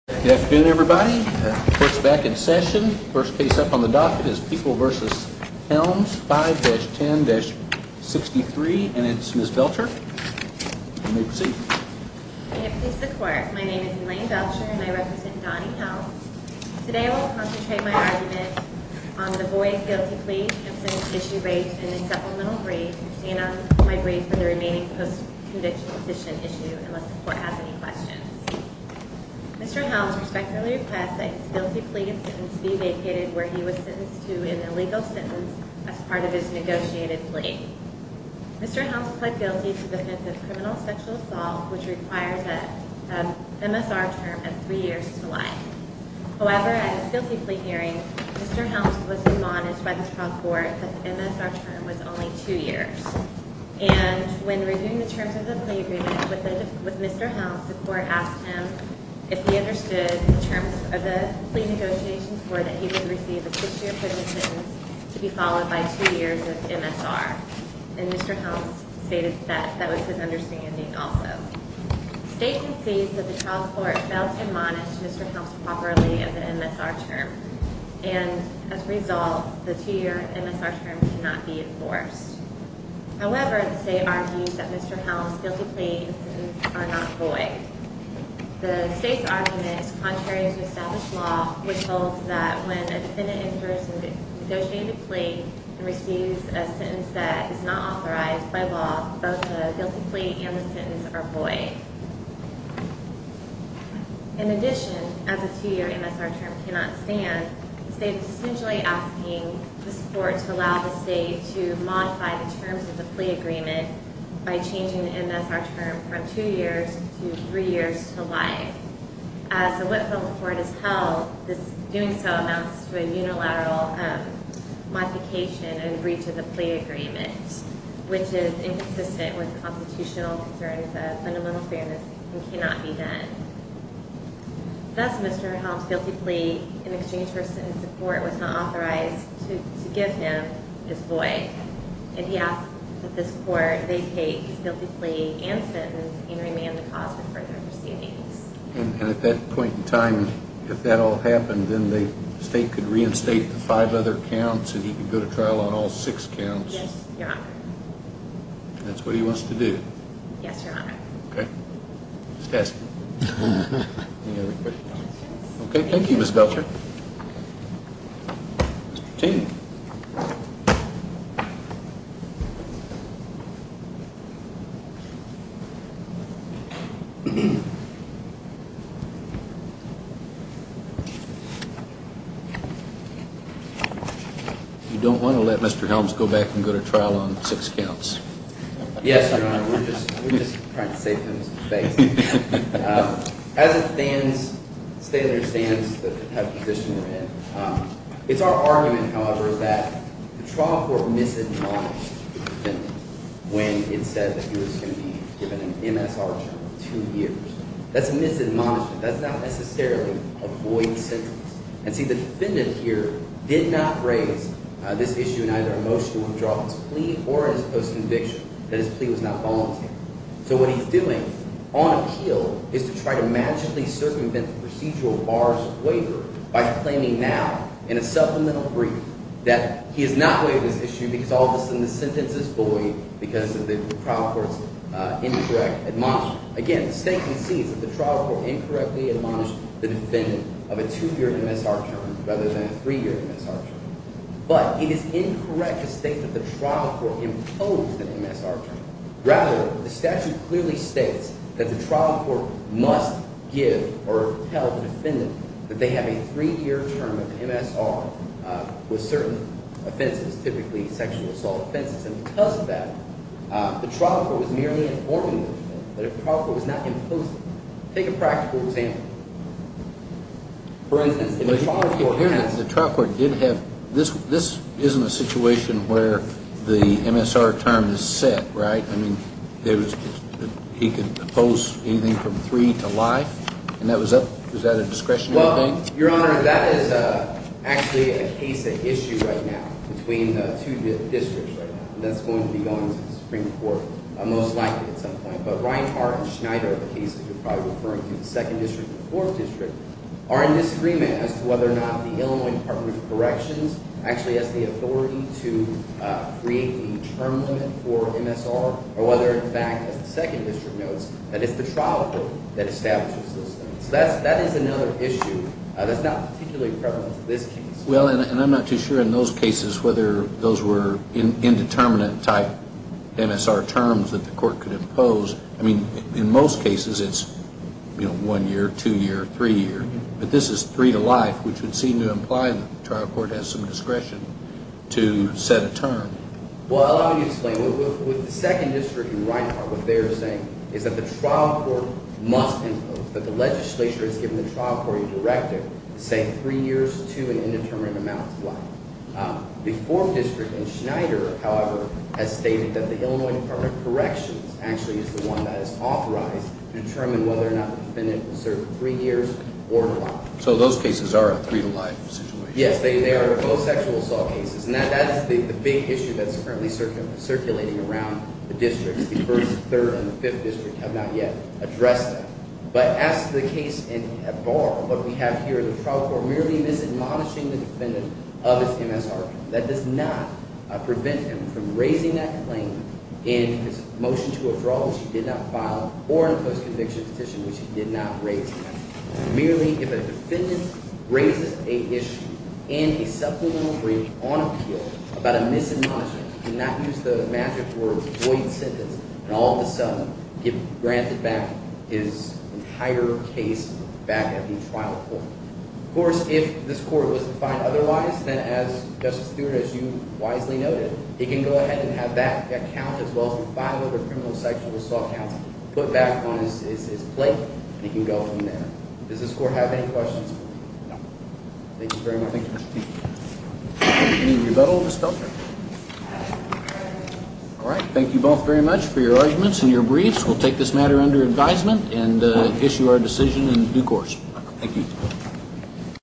Good afternoon everybody. The court is back in session. First case up on the docket is People v. Helms, 5-10-63, and it's Ms. Belcher. You may proceed. May it please the court, my name is Elaine Belcher and I represent Donnie Helms. Today I will concentrate my argument on the Boyd guilty plea, Simpson's issue rate, and the supplemental brief, and my brief for the remaining post-conviction petition issue, unless the court has any questions. Mr. Helms respectfully requests that his guilty plea and sentence be vacated where he was sentenced to an illegal sentence as part of his negotiated plea. Mr. Helms pled guilty to the offense of criminal sexual assault, which requires a MSR term of three years to life. However, at his guilty plea hearing, Mr. Helms was admonished by the trial court that the MSR term was only two years. And when reviewing the terms of the plea agreement with Mr. Helms, the court asked him if he understood the terms of the plea negotiations were that he would receive a six-year prison sentence to be followed by two years of MSR. And Mr. Helms stated that that was his understanding also. The state concedes that the trial court failed to admonish Mr. Helms properly of the MSR term. And as a result, the two-year MSR term cannot be enforced. However, the state argues that Mr. Helms' guilty plea and sentence are not void. The state's argument, contrary to established law, withholds that when a defendant in person negotiates a plea and receives a sentence that is not authorized by law, both the guilty plea and the sentence are void. In addition, as a two-year MSR term cannot stand, the state is essentially asking this court to allow the state to modify the terms of the plea agreement by changing the MSR term from two years to three years to life. As the Whitfield Court has held, this doing so amounts to a unilateral modification and breach of the plea agreement, which is inconsistent with constitutional concerns of fundamental fairness and cannot be done. Thus, Mr. Helms' guilty plea in exchange for sentence support was not authorized to give him is void. And he asks that this court vacate his guilty plea and sentence and remand the cause for further proceedings. And at that point in time, if that all happened, then the state could reinstate the five other counts and he could go to trial on all six counts? Yes, Your Honor. And that's what he wants to do? Yes, Your Honor. Okay. Okay, thank you, Ms. Belcher. Mr. Cheney. You don't want to let Mr. Helms go back and go to trial on six counts? Yes, Your Honor. We're just trying to save him some space. As it stands, the state understands the type of position we're in. It's our argument, however, that the trial court misadmonished the defendant when it said that he was going to be given an MSR term of two years. That's a misadmonishment. That's not necessarily a void sentence. And see, the defendant here did not raise this issue in either a motion to withdraw his plea or in his post-conviction that his plea was not voluntary. So what he's doing on appeal is to try to magically circumvent the procedural bars of waiver by claiming now in a supplemental brief that he has not waived his issue because all of a sudden the sentence is void because of the trial court's incorrect admonishment. Rather than a three-year MSR term. But it is incorrect to state that the trial court imposed an MSR term. Rather, the statute clearly states that the trial court must give or tell the defendant that they have a three-year term of MSR with certain offenses, typically sexual assault offenses. And because of that, the trial court was merely informing the defendant that a trial court was not imposing it. Take a practical example. For instance, if a trial court has – But you hear that the trial court did have – this isn't a situation where the MSR term is set, right? I mean, there was – he could impose anything from three to life? And that was up – was that a discretionary thing? Well, Your Honor, that is actually a case at issue right now between the two districts right now. And that's going to be going to the Supreme Court most likely at some point. But Ryan Hart and Schneider are the cases you're probably referring to, the Second District and the Fourth District, are in disagreement as to whether or not the Illinois Department of Corrections actually has the authority to create a term limit for MSR or whether, in fact, as the Second District notes, that it's the trial court that establishes those things. So that is another issue that's not particularly prevalent in this case. Well, and I'm not too sure in those cases whether those were indeterminate-type MSR terms that the court could impose. I mean, in most cases, it's, you know, one year, two year, three year. But this is three to life, which would seem to imply that the trial court has some discretion to set a term. Well, allow me to explain. With the Second District and Ryan Hart, what they're saying is that the trial court must impose, that the legislature has given the trial court a directive to say three years to an indeterminate amount of life. The Fourth District and Schneider, however, has stated that the Illinois Department of Corrections actually is the one that is authorized to determine whether or not the defendant will serve three years or life. So those cases are a three to life situation. Yes, they are both sexual assault cases. And that is the big issue that's currently circulating around the districts. The First, Third, and the Fifth District have not yet addressed it. But as to the case in Bar, what we have here is the trial court merely misadmonishing the defendant of his MSR. That does not prevent him from raising that claim in his motion to withdraw, which he did not file, or in a post-conviction petition, which he did not raise. Merely, if a defendant raises a issue in a supplemental brief on appeal about a misadmonishment, he cannot use the magic word void sentence and all of a sudden get granted back his entire case back at the trial court. Of course, if this court was to find otherwise, then as Justice Stewart, as you wisely noted, he can go ahead and have that count as well as the five other criminal sexual assault counts put back on his plate, and he can go from there. Does this court have any questions? No. Thank you very much. Thank you, Mr. Chief. Any rebuttal, Ms. Felton? All right. Thank you both very much for your arguments and your briefs. We'll take this matter under advisement and issue our decision in due course. Thank you.